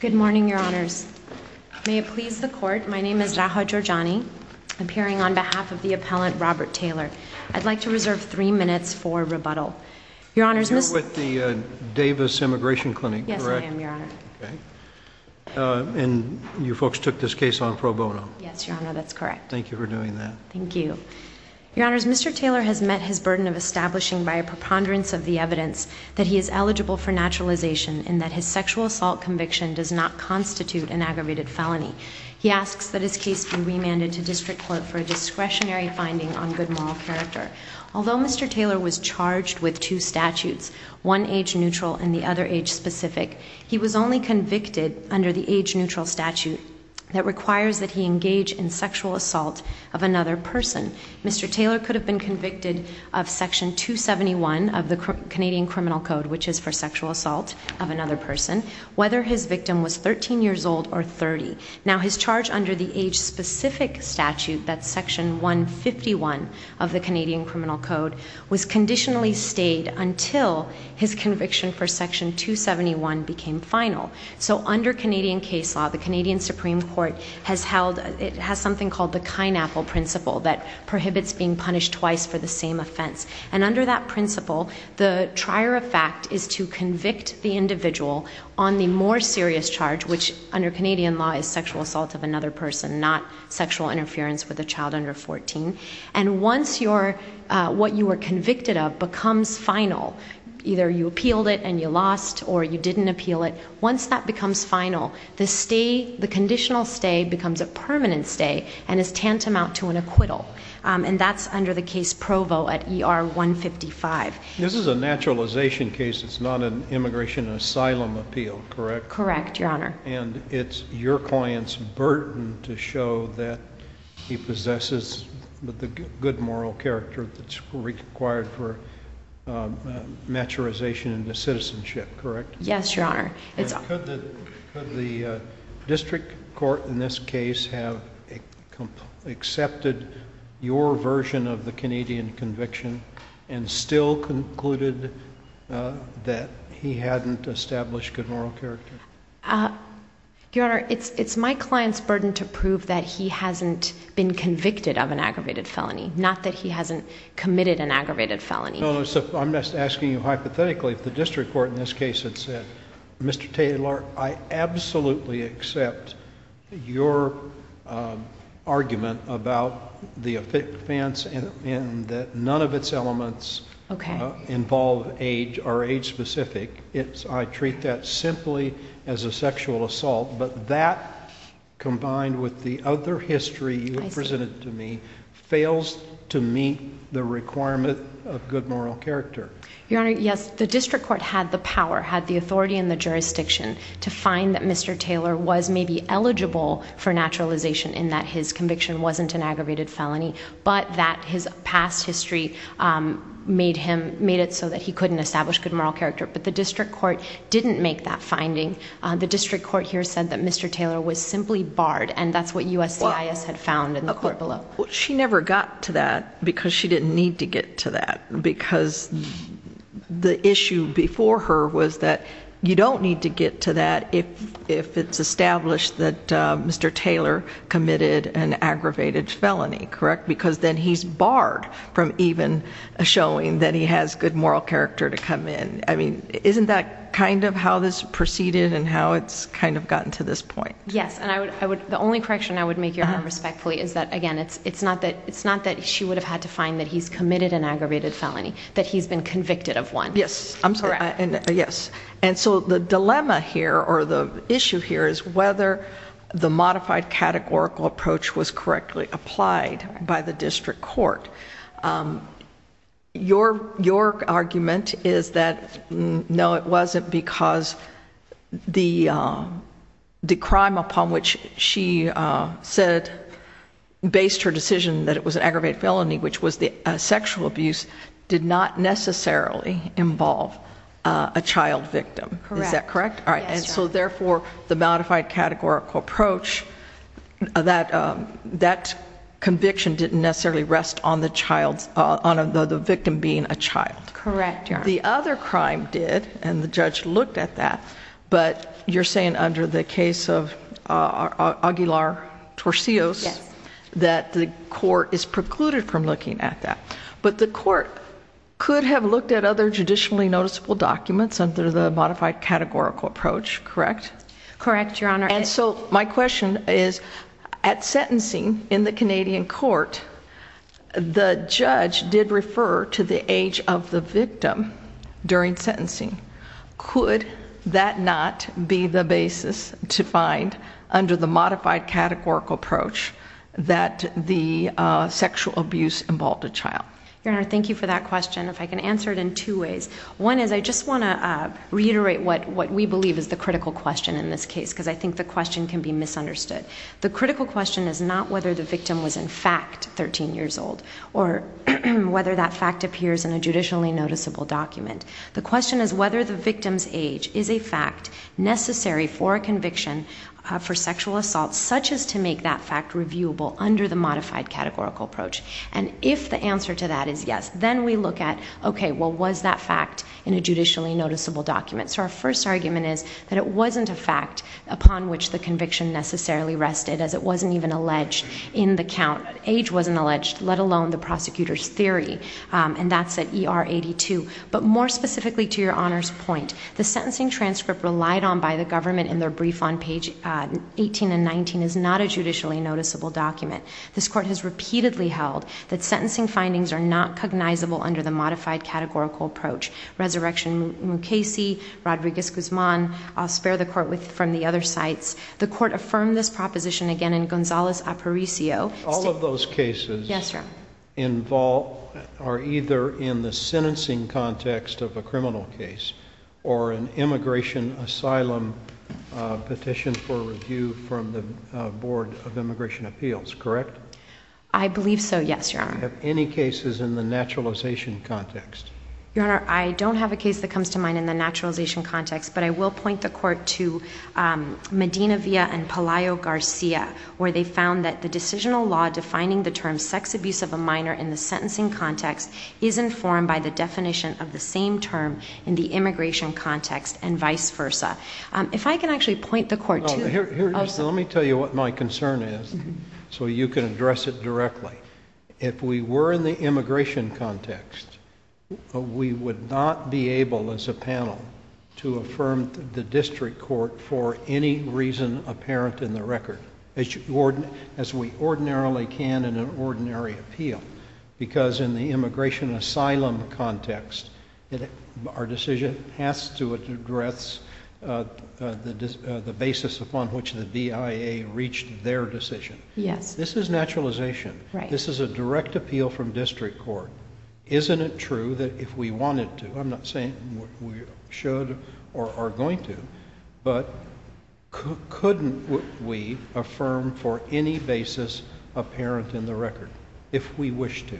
Good morning, Your Honors. May it please the Court, my name is Raha Georgiani, appearing on behalf of the appellant Robert Taylor. I'd like to reserve three minutes for rebuttal. Your Honors, Mr. Taylor has met his burden of establishing by a preponderance of the sexual assault conviction does not constitute an aggravated felony. He asks that his case be remanded to district court for a discretionary finding on good moral character. Although Mr. Taylor was charged with two statutes, one age-neutral and the other age-specific, he was only convicted under the age-neutral statute that requires that he engage in sexual assault of another person. Mr. Taylor could have been convicted of Section 271 of the his victim was 13 years old or 30. Now his charge under the age-specific statute, that's Section 151 of the Canadian Criminal Code, was conditionally stayed until his conviction for Section 271 became final. So under Canadian case law, the Canadian Supreme Court has something called the Kynapple Principle that prohibits being punished twice for the same offense. And under that principle, the trier of fact is to convict the individual on the more serious charge, which under Canadian law is sexual assault of another person, not sexual interference with a child under 14. And once what you were convicted of becomes final, either you appealed it and you lost or you didn't appeal it, once that becomes final, the stay, the conditional stay becomes a permanent stay and is tantamount to an acquittal. And that's under the case law of Provo at ER 155. This is a naturalization case, it's not an immigration asylum appeal, correct? Correct, Your Honor. And it's your client's burden to show that he possesses the good moral character that's required for maturization into citizenship, correct? Yes, Your Honor. Could the district court in this case have accepted your version of the Canadian conviction and still concluded that he hadn't established good moral character? Your Honor, it's my client's burden to prove that he hasn't been convicted of an aggravated felony, not that he hasn't committed an aggravated felony. No, no, so I'm just asking you hypothetically if the district court in this case had said, Mr. Taylor, I absolutely accept your argument about the offense and that none of its elements involve age or age specific. I treat that simply as a sexual assault, but that combined with the other history you have presented to me fails to meet the requirement of good moral character. Your Honor, yes, the district court had the power, had the authority and the jurisdiction to find that Mr. Taylor was maybe eligible for naturalization in that his conviction wasn't an aggravated felony, but that his past history made him, made it so that he couldn't establish good moral character. But the district court didn't make that finding. The district court here said that Mr. Taylor was simply barred and that's what USCIS had found in the court below. She never got to that because she didn't need to get to that because the issue before her was that you don't need to get to that if it's established that Mr. Taylor committed an aggravated felony, correct? Because then he's barred from even showing that he has good moral character to come in. I mean, isn't that kind of how this proceeded and how it's kind of gotten to this point? Yes, and the only correction I would make, Your Honor, respectfully, is that again, it's not that she would have had to find that he's committed an aggravated felony, that he's been convicted of one. Yes, I'm sorry. Yes. And so the dilemma here or the issue here is whether the modified categorical approach was correctly applied by the district court. Your argument is that no, it wasn't because the crime upon which she said, based her decision that it was an aggravated felony, which was the sexual abuse, did not necessarily involve a child victim. Correct. Is that correct? Yes, Your Honor. All right, and so therefore the modified categorical approach, that conviction didn't necessarily rest on the victim being a child. Correct, Your Honor. The other crime did, and the judge looked at that, but you're under the case of Aguilar-Torcillos, that the court is precluded from looking at that. But the court could have looked at other judicially noticeable documents under the modified categorical approach, correct? Correct, Your Honor. And so my question is, at sentencing in the Canadian court, the judge did refer to the age of the victim during sentencing. Could that not be the basis to find, under the modified categorical approach, that the sexual abuse involved a child? Your Honor, thank you for that question. If I can answer it in two ways. One is, I just want to reiterate what we believe is the critical question in this case, because I think the question can be misunderstood. The critical question is not whether the victim was in fact 13 years old, or whether that fact appears in a judicially noticeable document. The question is whether the victim's age is a fact necessary for a conviction for sexual assault, such as to make that fact reviewable under the modified categorical approach. And if the answer to that is yes, then we look at, okay, well was that fact in a judicially noticeable document? So our first argument is that it wasn't a fact upon which the conviction necessarily rested, as it wasn't even alleged in the count. Age wasn't alleged, let alone the prosecutor's theory. And that's at ER 82. But more specifically to your Honor's point, the sentencing transcript relied on by the government in their brief on page 18 and 19 is not a judicially noticeable document. This court has repeatedly held that sentencing findings are not cognizable under the modified categorical approach. Resurrection Mukasey, Rodriguez-Guzman, I'll spare the court from the other sites. The court affirmed this proposition again in Gonzales-Aparicio. All of those cases are either in the sentencing context of a criminal case, or an immigration asylum petition for review from the Board of Immigration Appeals, correct? I believe so, yes, Your Honor. Any cases in the naturalization context? Your Honor, I will point the court to Medina Villa and Palaio Garcia, where they found that the decisional law defining the term sex abuse of a minor in the sentencing context is informed by the definition of the same term in the immigration context and vice versa. If I can actually point the court to... Let me tell you what my concern is, so you can address it directly. If we were in the immigration context, we would not be able, as a panel, to affirm the district court for any reason apparent in the record, as we ordinarily can in an ordinary appeal, because in the immigration asylum context, our decision has to address the basis upon which the BIA reached their decision. This is naturalization. This is a direct appeal from district court. Isn't it true that if we wanted to, I'm not saying we should or are going to, but couldn't we affirm for any basis apparent in the record, if we wish to?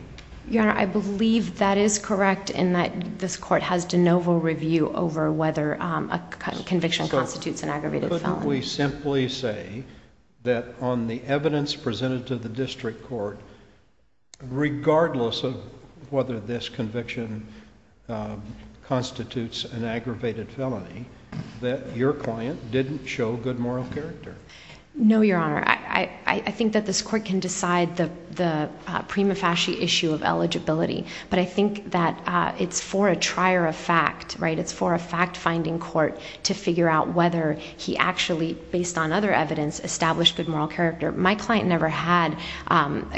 Your Honor, I believe that is correct in that this court has de novo review over whether a conviction constitutes an aggravated felony. Couldn't we simply say that on the evidence presented to the district court, regardless of whether this conviction constitutes an aggravated felony, that your client didn't show good moral character? No, Your Honor. I think that this court can decide the prima facie issue of eligibility, but I think that it's for a trier of fact, right? It's for a fact-finding court to figure out whether he actually, based on other evidence, established good moral character. My client never had,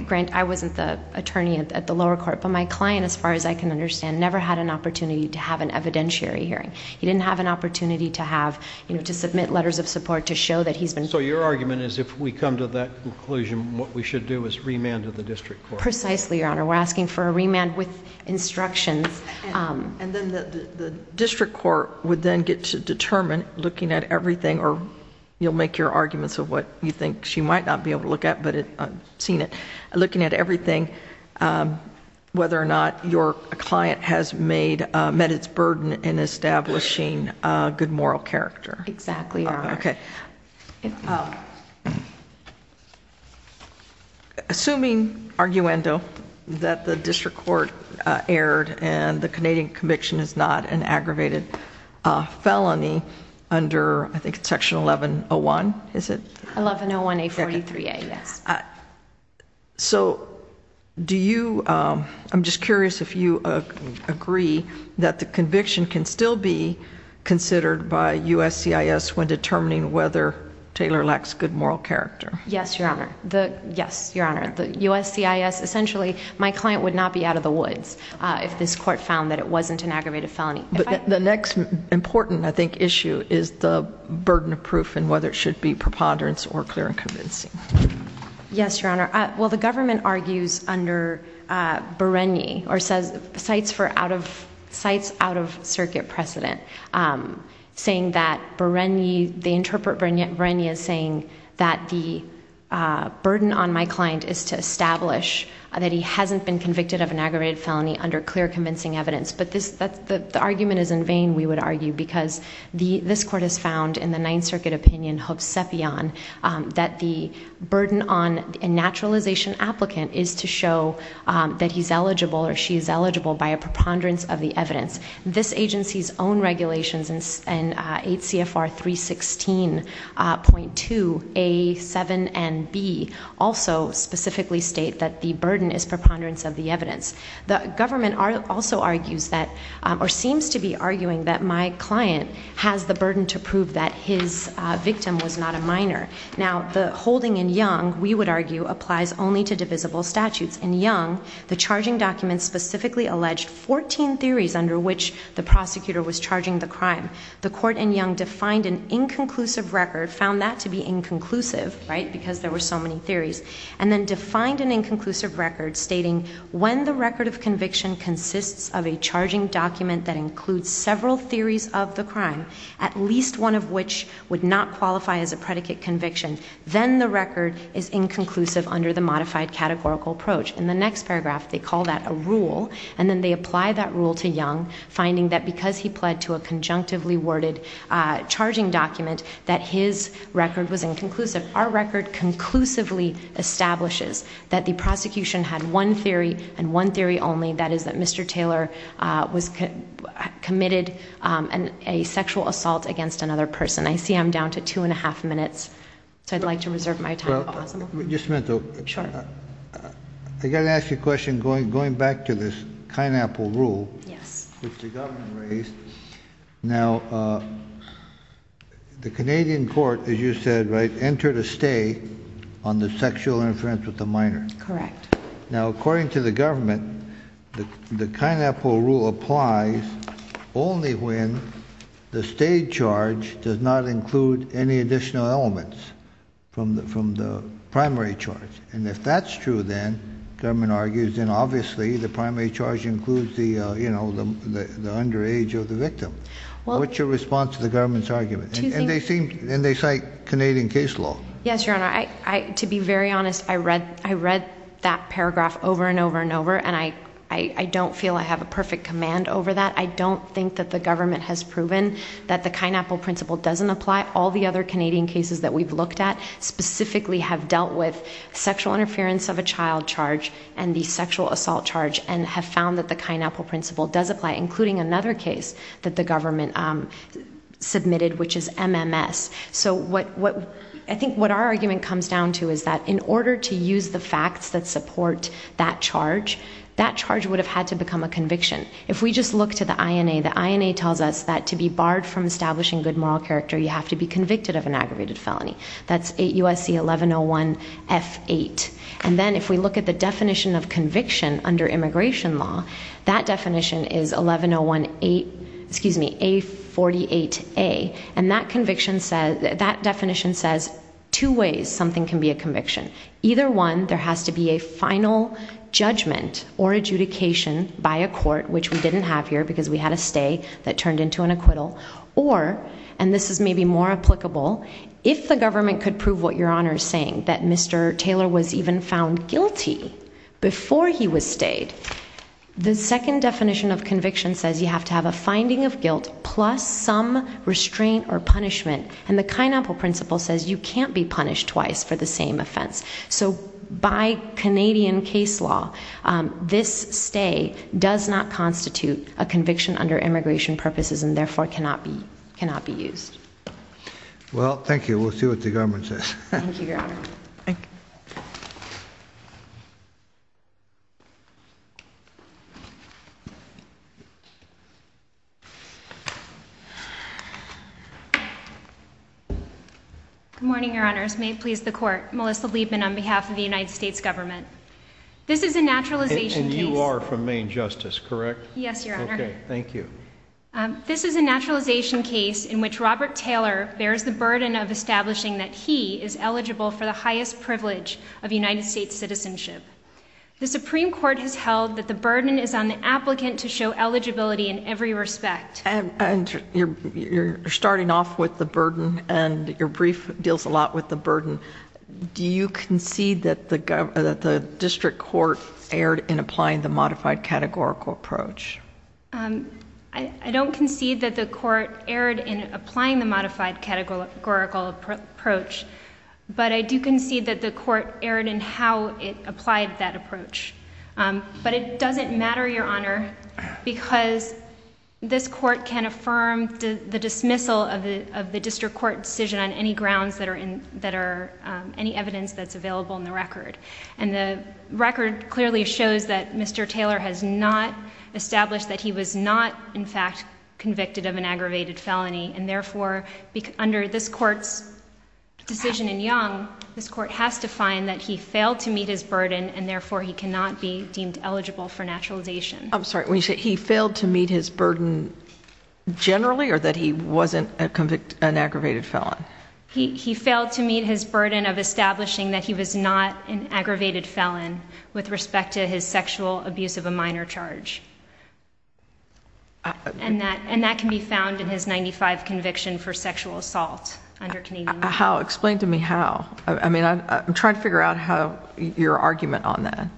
Grant, I wasn't the attorney at the lower court, but my client, as far as I can understand, never had an opportunity to have an evidentiary hearing. He didn't have an opportunity to have, you know, to submit letters of support to show that he's been... So your argument is if we come to that conclusion, what we should do is remand him to the district court. Precisely, Your Honor. We're asking for a remand with instructions. And then the district court would then get to determine, looking at everything, or you'll make your arguments of what you think she might not be able to look at, but I've seen it, looking at everything, whether or not your client has met its burden in establishing a good moral character. Exactly, Your Honor. Okay. Assuming, arguendo, that the district court erred and the Canadian conviction is not an aggravated felony under, I think, Section 1101, is it? 1101A43A, yes. So do you... I'm just curious if you agree that the conviction can still be considered by USCIS when determining whether Taylor lacks good moral character? Yes, Your Honor. Yes, Your Honor. The USCIS, essentially, my client would not be out of the woods if this court found that it wasn't an aggravated felony. But the next important, I think, issue is the burden of proof and whether it should be preponderance or clear and convincing. Yes, Your Honor. Well, the government argues under Bereni or says sites for out-of-circuit precedent, saying that Bereni, they interpret Bereni as saying that the burden on my client is to establish that he hasn't been convicted of an aggravated felony under clear, convincing evidence. But the argument is in vain, we would argue, because this court has found, in the Ninth Circuit opinion, hovsepian, that the burden on a naturalization applicant is to show that he's eligible or she's eligible by a preponderance of the evidence. This agency's own regulations in 8 CFR 316.2 A, 7, and B also specifically state that the burden is preponderance of the evidence. The government also argues that, or seems to be arguing that my client has the burden to prove that his victim was not a minor. Now, the reasoning in Young, we would argue, applies only to divisible statutes. In Young, the charging document specifically alleged 14 theories under which the prosecutor was charging the crime. The court in Young defined an inconclusive record, found that to be inconclusive, right, because there were so many theories, and then defined an inconclusive record stating when the record of conviction consists of a charging document that includes several theories of the crime, at least one of which would not qualify as a predicate conviction, then the record is inconclusive under the modified categorical approach. In the next paragraph, they call that a rule, and then they apply that rule to Young, finding that because he pled to a conjunctively worded charging document, that his record was inconclusive. Our record conclusively establishes that the prosecution had one theory, and one theory only, that is that Mr. Taylor was committed a sexual assault against another person. I see I'm down to two and a half minutes, so I'd like to reserve my time if possible. Just a minute though. I got to ask you a question, going back to this Kinepple rule, which the government raised, now, the Canadian court, as you said, right, entered a stay on the sexual inference with the minor. Correct. Now, according to the government, the Kinepple rule applies only when the stay charge does not include any additional elements from the primary charge, and if that's true then, the government argues, then obviously the primary charge includes the, you know, the underage of the victim. What's your response to the government's argument? And they cite Canadian case law. Yes, Your Honor, to be very honest, I read that paragraph over and over and over, and I don't feel I have a perfect command over that. I don't think that the government has proven that the Kinepple principle doesn't apply. All the other Canadian cases that we've looked at specifically have dealt with sexual interference of a child charge, and the sexual assault charge, and have found that the Kinepple principle does apply, including another case that the government submitted, which is MMS. So what I think what our argument comes down to is that in order to use the facts that support that charge, that charge would have had to become a conviction. If we just look to the INA, the INA tells us that to be barred from establishing good moral character, you have to be convicted of an aggravated felony. That's 8 U.S.C. 1101 F8. And then if we look at the definition of conviction under immigration law, that definition is 1101 A48A, and that definition says two ways something can be a conviction. Either one, there has to be a final judgment or adjudication by a court, which we didn't have here because we had a stay that turned into an acquittal, or, and this is maybe more applicable, if the government could prove what Your Honor is saying, that Mr. Taylor was even found guilty before he was stayed. The second definition of conviction says you have to have a finding of guilt plus some restraint or punishment, and the Kinepple principle says you can't be punished twice for the same offense. So by Canadian case law, this stay does not constitute a conviction under immigration purposes and therefore cannot be, cannot be used. Well, Good morning, Your Honors. May it please the Court. Melissa Liebman on behalf of the United States government. This is a naturalization case. And you are from Maine Justice, correct? Yes, Your Honor. Okay, thank you. This is a naturalization case in which Robert Taylor bears the burden of establishing that he is eligible for the highest privilege of United States citizenship. The Supreme Court has held that the burden is on the applicant to show eligibility in every respect. And you're starting off with the burden and your brief deals a lot with the burden. Do you concede that the district court erred in applying the modified categorical approach? I don't concede that the court erred in applying the that approach. But it doesn't matter, Your Honor, because this court can affirm the dismissal of the district court decision on any grounds that are in, that are, any evidence that's available in the record. And the record clearly shows that Mr. Taylor has not established that he was not, in fact, convicted of an aggravated felony. And therefore, under this court's decision in Young, this court has to find that he failed to meet his burden and therefore he cannot be deemed eligible for naturalization. I'm sorry, when you say he failed to meet his burden generally or that he wasn't a convicted, an aggravated felon? He failed to meet his burden of establishing that he was not an aggravated felon with respect to his sexual abuse of a minor charge. And that, and that can be found in his 95 conviction for sexual assault under Canadian law. How? Explain to me how. I mean, I'm trying to figure out how, your argument on that.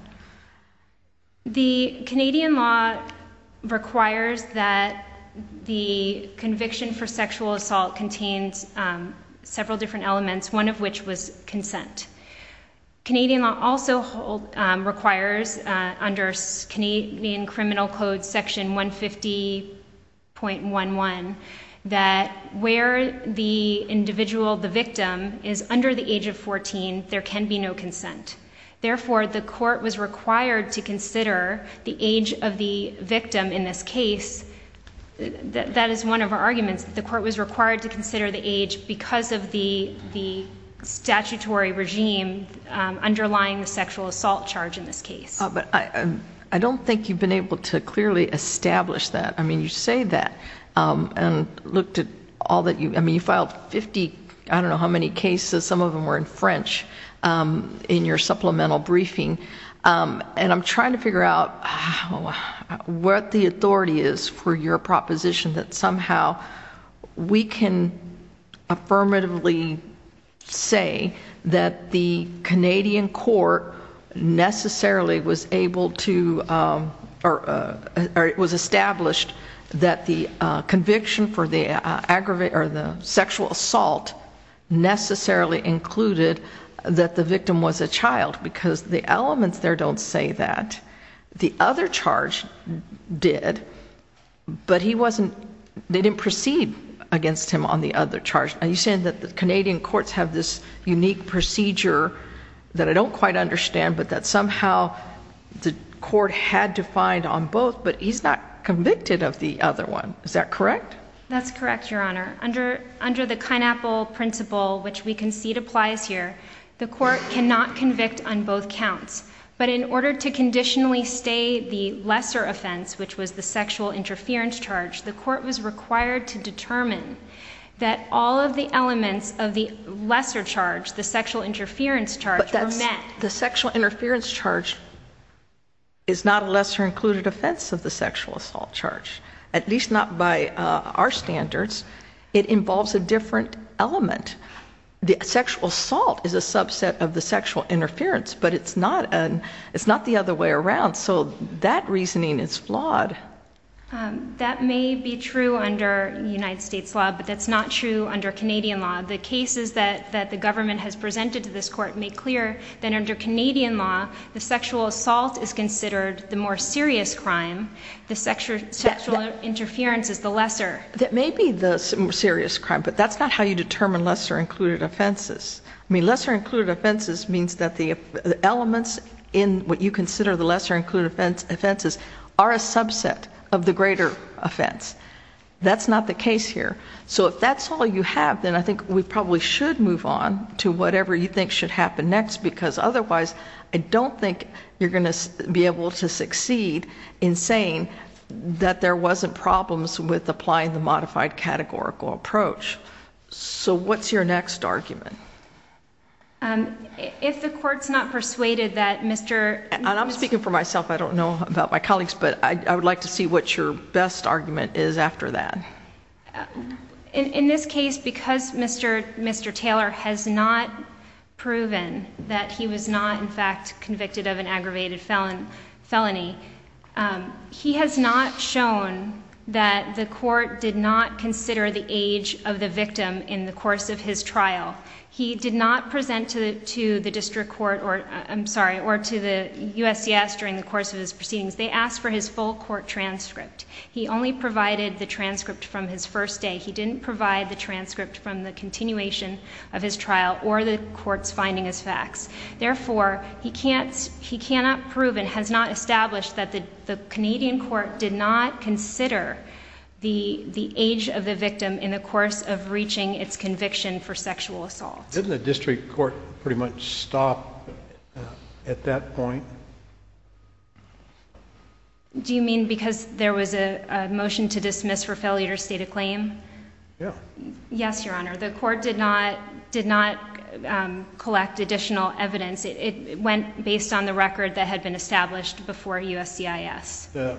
The Canadian law requires that the conviction for sexual assault contains several different elements, one of which was consent. Canadian law also hold, requires under Canadian criminal code section 150.11 that where the individual, the victim, is under the age of 14, there can be no consent. Therefore, the court was required to consider the age of the victim in this case. That is one of our arguments, the court was required to consider the age because of the statutory regime underlying the sexual assault charge in this case. But I don't think you've been able to clearly establish that. I mean, you say that and looked at all that you, I mean, you filed 50, I don't know how many cases, some of them were in French, in your supplemental briefing. And I'm trying to figure out what the authority is for your proposition that somehow we can affirmatively say that the Canadian court necessarily was able to, or it was established that the conviction for the aggravate, or the sexual assault necessarily included that the victim was a child because the elements there don't say that. The other charge did, but he wasn't, they didn't proceed against him on the other charge. Are you saying that the Canadian courts have this unique procedure that I don't quite understand, but that somehow the court had to find on both, but he's not convicted of the other one? Is that correct? That's correct, Your Honor. Under the Kynapple principle, which we concede applies here, the court cannot convict on both counts. But in order to conditionally stay the lesser offense, which was the sexual interference charge, the court was required to determine that all of the elements of the lesser charge, the sexual interference charge, were met. The sexual interference charge is not a lesser included offense of the sexual assault charge, at least not by our standards. It involves a different element. The sexual assault is a subset of the sexual interference, but it's not the other way around. So that reasoning is flawed. That may be true under United States law, but that's not true under Canadian law. The cases that the government has presented to this court make clear that under Canadian law, the sexual assault is considered the more serious crime. The sexual interference is the lesser. That may be the more serious crime, but that's not how you determine lesser included offenses. I mean, lesser included offenses means that the elements in what you call lesser included offenses are a subset of the greater offense. That's not the case here. So if that's all you have, then I think we probably should move on to whatever you think should happen next, because otherwise, I don't think you're going to be able to succeed in saying that there wasn't problems with applying the modified categorical approach. So what's your next argument? If the court's not persuaded that Mr. I'm speaking for myself. I don't know about my colleagues, but I would like to see what your best argument is after that. In this case, because Mr. Taylor has not proven that he was not, in fact, convicted of an aggravated felony, he has not shown that the court did not consider the age of the victim in the course of his trial. He did not present to the district court or, I'm sorry, or to the USCIS during the course of his proceedings. They asked for his full court transcript. He only provided the transcript from his first day. He didn't provide the transcript from the continuation of his trial or the court's finding as facts. Therefore, he cannot prove and has not established that the Canadian court did not consider the age of the victim in the course of reaching its conviction for sexual assault. Didn't the district court pretty much stop at that point? Do you mean because there was a motion to dismiss for failure to state a claim? Yes, Your Honor. The court did not collect additional evidence. It went based on the record that had been established before USCIS.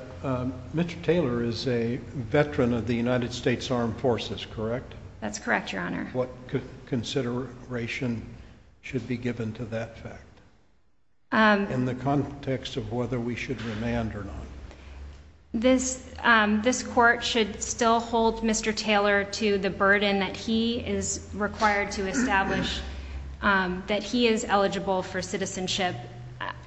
Mr. Taylor is a veteran of the United States Armed Forces, correct? That's correct, Your Honor. What consideration should be given to that fact in the context of whether we should remand or not? This court should still hold Mr. Taylor to the burden that he is required to establish that he is eligible for citizenship.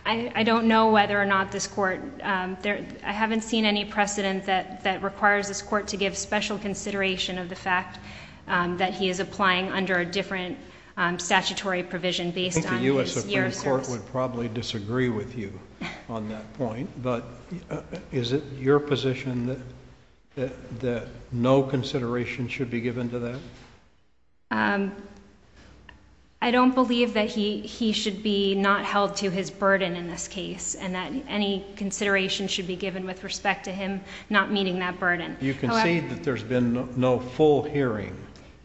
I don't know whether or not this court... I haven't seen any precedent that requires this court to give special consideration of the fact that he is applying under a different statutory provision based on his year of service. I think the U.S. Supreme Court would probably disagree with you on that point, but is it your position that no consideration should be given to that? I don't believe that he should be not held to his burden in this case and that any consideration should be given with respect to him not meeting that burden. You concede that there's been no full hearing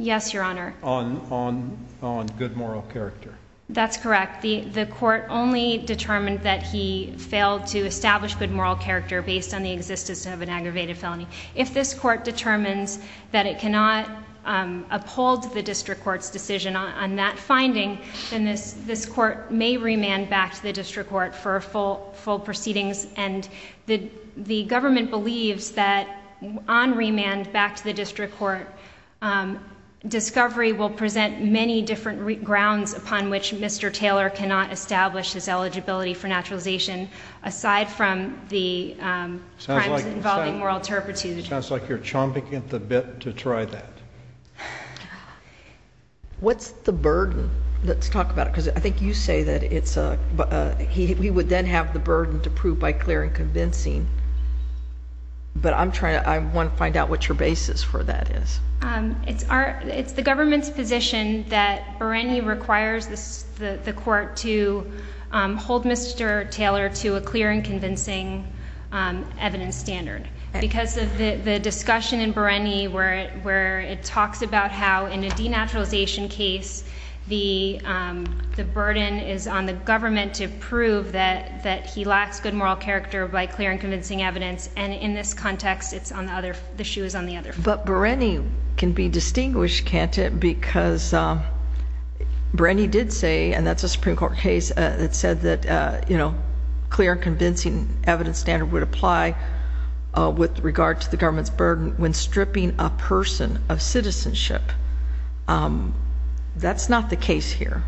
on good moral character? That's correct. The court only determined that he failed to establish good moral character based on the existence of an aggravated felony. If this court determines that it cannot uphold the district court's decision on that finding, then this court may remand back to the district court for full proceedings. The government believes that on remand back to the district court, discovery will present many different grounds upon which Mr. Taylor cannot establish his eligibility for naturalization aside from the crimes involving moral turpitude. Sounds like you're chomping at the bit to try that. What's the burden? Let's talk about it, because I think you say that he would then have the burden to prove by clear and convincing, but I want to find out what your basis for that is. It's the government's position that Bereni requires the court to hold Mr. Taylor to a stand. The discussion in Bereni where it talks about how in a denaturalization case, the burden is on the government to prove that he lacks good moral character by clear and convincing evidence, and in this context, the shoe is on the other foot. But Bereni can be distinguished, can't it, because Bereni did say, and that's a Supreme Court case, that said that clear and convincing evidence standard would apply with regard to the government's burden when stripping a person of citizenship. That's not the case here.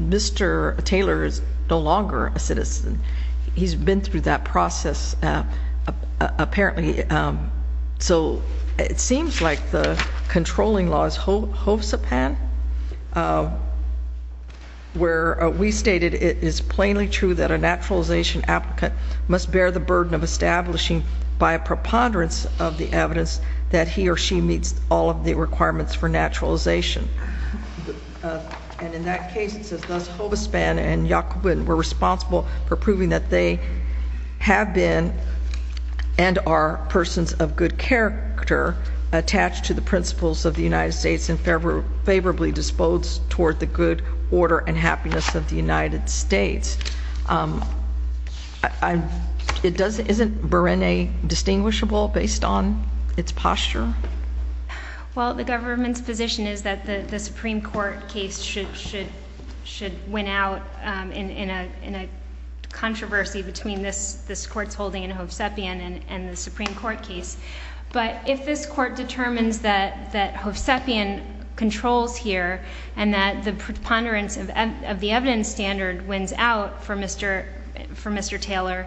Mr. Taylor is no longer a citizen. He's been through that process, apparently. So it seems like the controlling law is hosapan, where we stated it is plainly true that a person of good character is responsible for proving that he or she meets all of the requirements for naturalization. And in that case, it says, thus, hosapan and Yacoubin were responsible for proving that they have been and are persons of good character attached to the principles of the United States and favorably disposed toward the good order and happiness of the United States. Isn't Bereni distinguishable based on its posture? Well, the government's position is that the Supreme Court case should win out in a controversy between this Court's holding in Hovsepian and the Supreme Court case. But if this Court standard wins out for Mr. Taylor,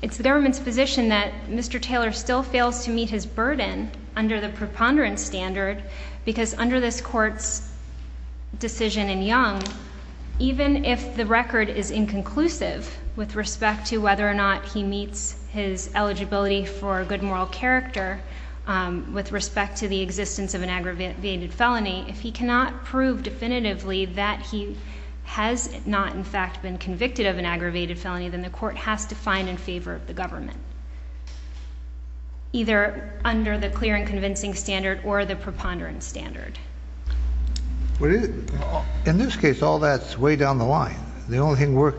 it's the government's position that Mr. Taylor still fails to meet his burden under the preponderance standard because under this Court's decision in Young, even if the record is inconclusive with respect to whether or not he meets his eligibility for good moral character with respect to the existence of an aggravated felony, if he cannot prove definitively that he has not in fact been convicted of an aggravated felony, then the Court has to find in favor of the government, either under the clear and convincing standard or the preponderance standard. In this case, all that's way down the line. The only thing we're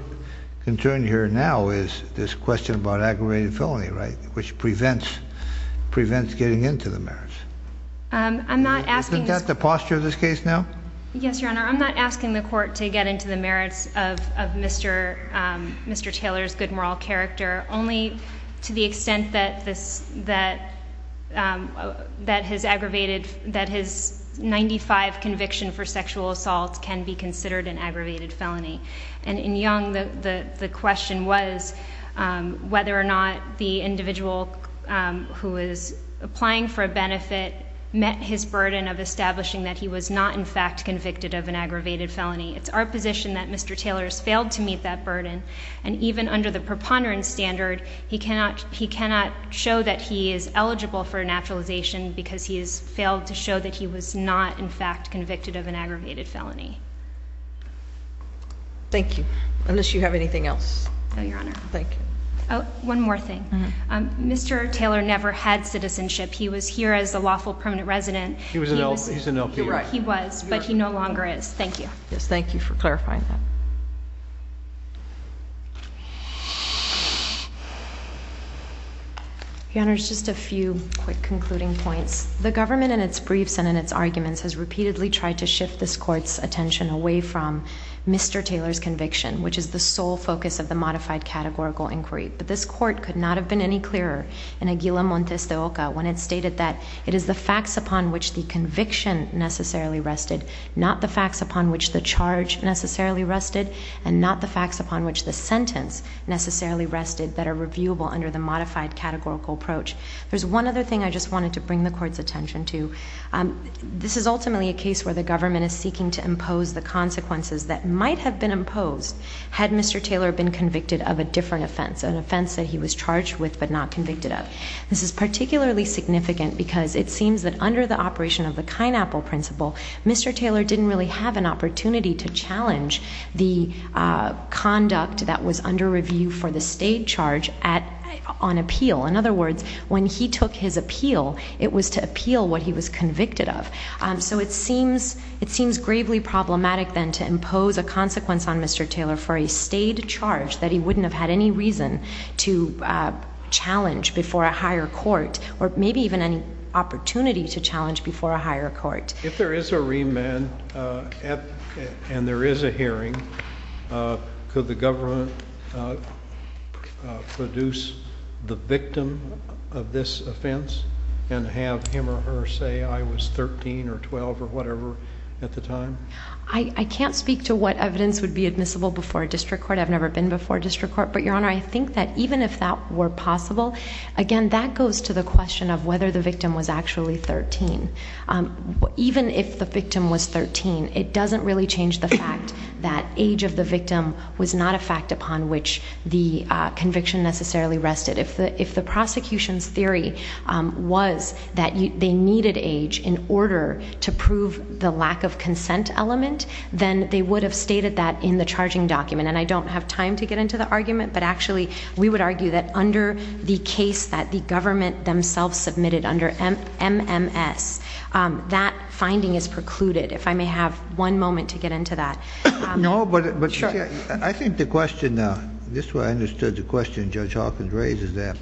concerned here now is this question about aggravated felony, right, which prevents getting into the merits. Isn't that the posture of this case now? Yes, Your Honor. I'm not asking the Court to get into the merits of Mr. Taylor's good moral character, only to the extent that his 95 conviction for sexual assault can be considered an aggravated felony. And in Young, the question was whether or not the individual who is applying for a benefit met his burden of establishing that he was not in fact convicted of an aggravated felony. It's our position that Mr. Taylor has failed to meet that burden, and even under the preponderance standard, he cannot show that he is eligible for a naturalization because he has failed to show that he was not in fact convicted of an aggravated felony. Thank you. Unless you have anything else. No, Your Honor. Thank you. One more thing. Mr. Taylor never had citizenship. He was here as a lawful permanent resident. He was an LPA. You're right. He was, but he no longer is. Thank you. Yes, thank you for clarifying that. Your Honor, just a few quick concluding points. The government in its briefs and in its arguments has repeatedly tried to shift this Court's attention away from Mr. Taylor's conviction, which is the sole focus of the modified categorical inquiry. But this Court could not have been any clearer in Aguila Montes de Oca when it stated that it is the facts upon which the conviction necessarily rested, not the facts upon which the charge necessarily rested, and not the facts upon which the sentence necessarily rested that are reviewable under the modified categorical approach. There's one other thing I just wanted to bring the Court's attention to. This is ultimately a case where the government is seeking to impose the consequences that might have been imposed had Mr. Taylor been convicted of a different offense, an offense that he was charged with but not convicted of. This is particularly significant because it seems that under the operation of the Kinepple principle, Mr. Taylor didn't really have an opportunity to challenge the conduct that was under review for the state charge on appeal. In other words, when he took his appeal, it was to appeal what he was convicted of. So it seems gravely problematic then to impose a consequence on Mr. Taylor for a state charge that he wouldn't have had any reason to challenge before a higher court, or maybe even any opportunity to challenge before a higher court. If there is a remand and there is a hearing, could the government produce the victim of this offense and have him or her say, I was 13 or 12 or whatever at the time? I can't speak to what evidence would be admissible before a district court. I've never been before a district court. But, Your Honor, I think that even if that were possible, again, that goes to the question of whether the victim was actually 13. Even if the victim was 13, it doesn't really change the fact that age of the victim was not a fact upon which the prosecution's theory was that they needed age in order to prove the lack of consent element, then they would have stated that in the charging document. And I don't have time to get into the argument, but actually, we would argue that under the case that the government themselves submitted under MMS, that finding is precluded. If I may have one moment to get into that. No, but I think the question, this is where I understood the question Judge Hawkins raised is that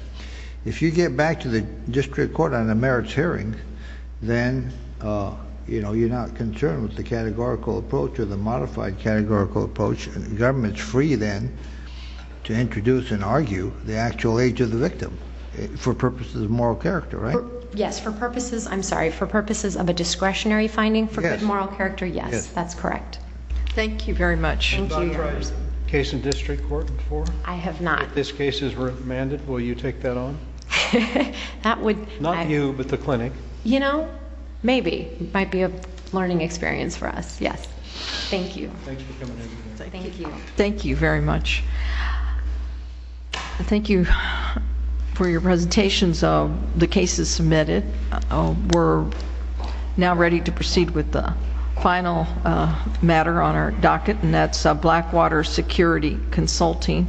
if you get back to the district court on a merits hearing, then, you know, you're not concerned with the categorical approach or the modified categorical approach. The government's free then to introduce and argue the actual age of the victim for purposes of moral character, right? Yes, for purposes, I'm sorry, for purposes of a discretionary finding for good moral character, yes, that's correct. Thank you very much. Thank you, Your Honor. Have you tried a case in district court before? I have not. If this case is remanded, will you take that on? That would... Not you, but the clinic. You know, maybe. It might be a learning experience for us, yes. Thank you. Thanks for coming in. Thank you. Thank you very much. Thank you for your presentations of the cases submitted. We're now ready to proceed with the final matter on our docket, and that's Blackwater Security Consulting.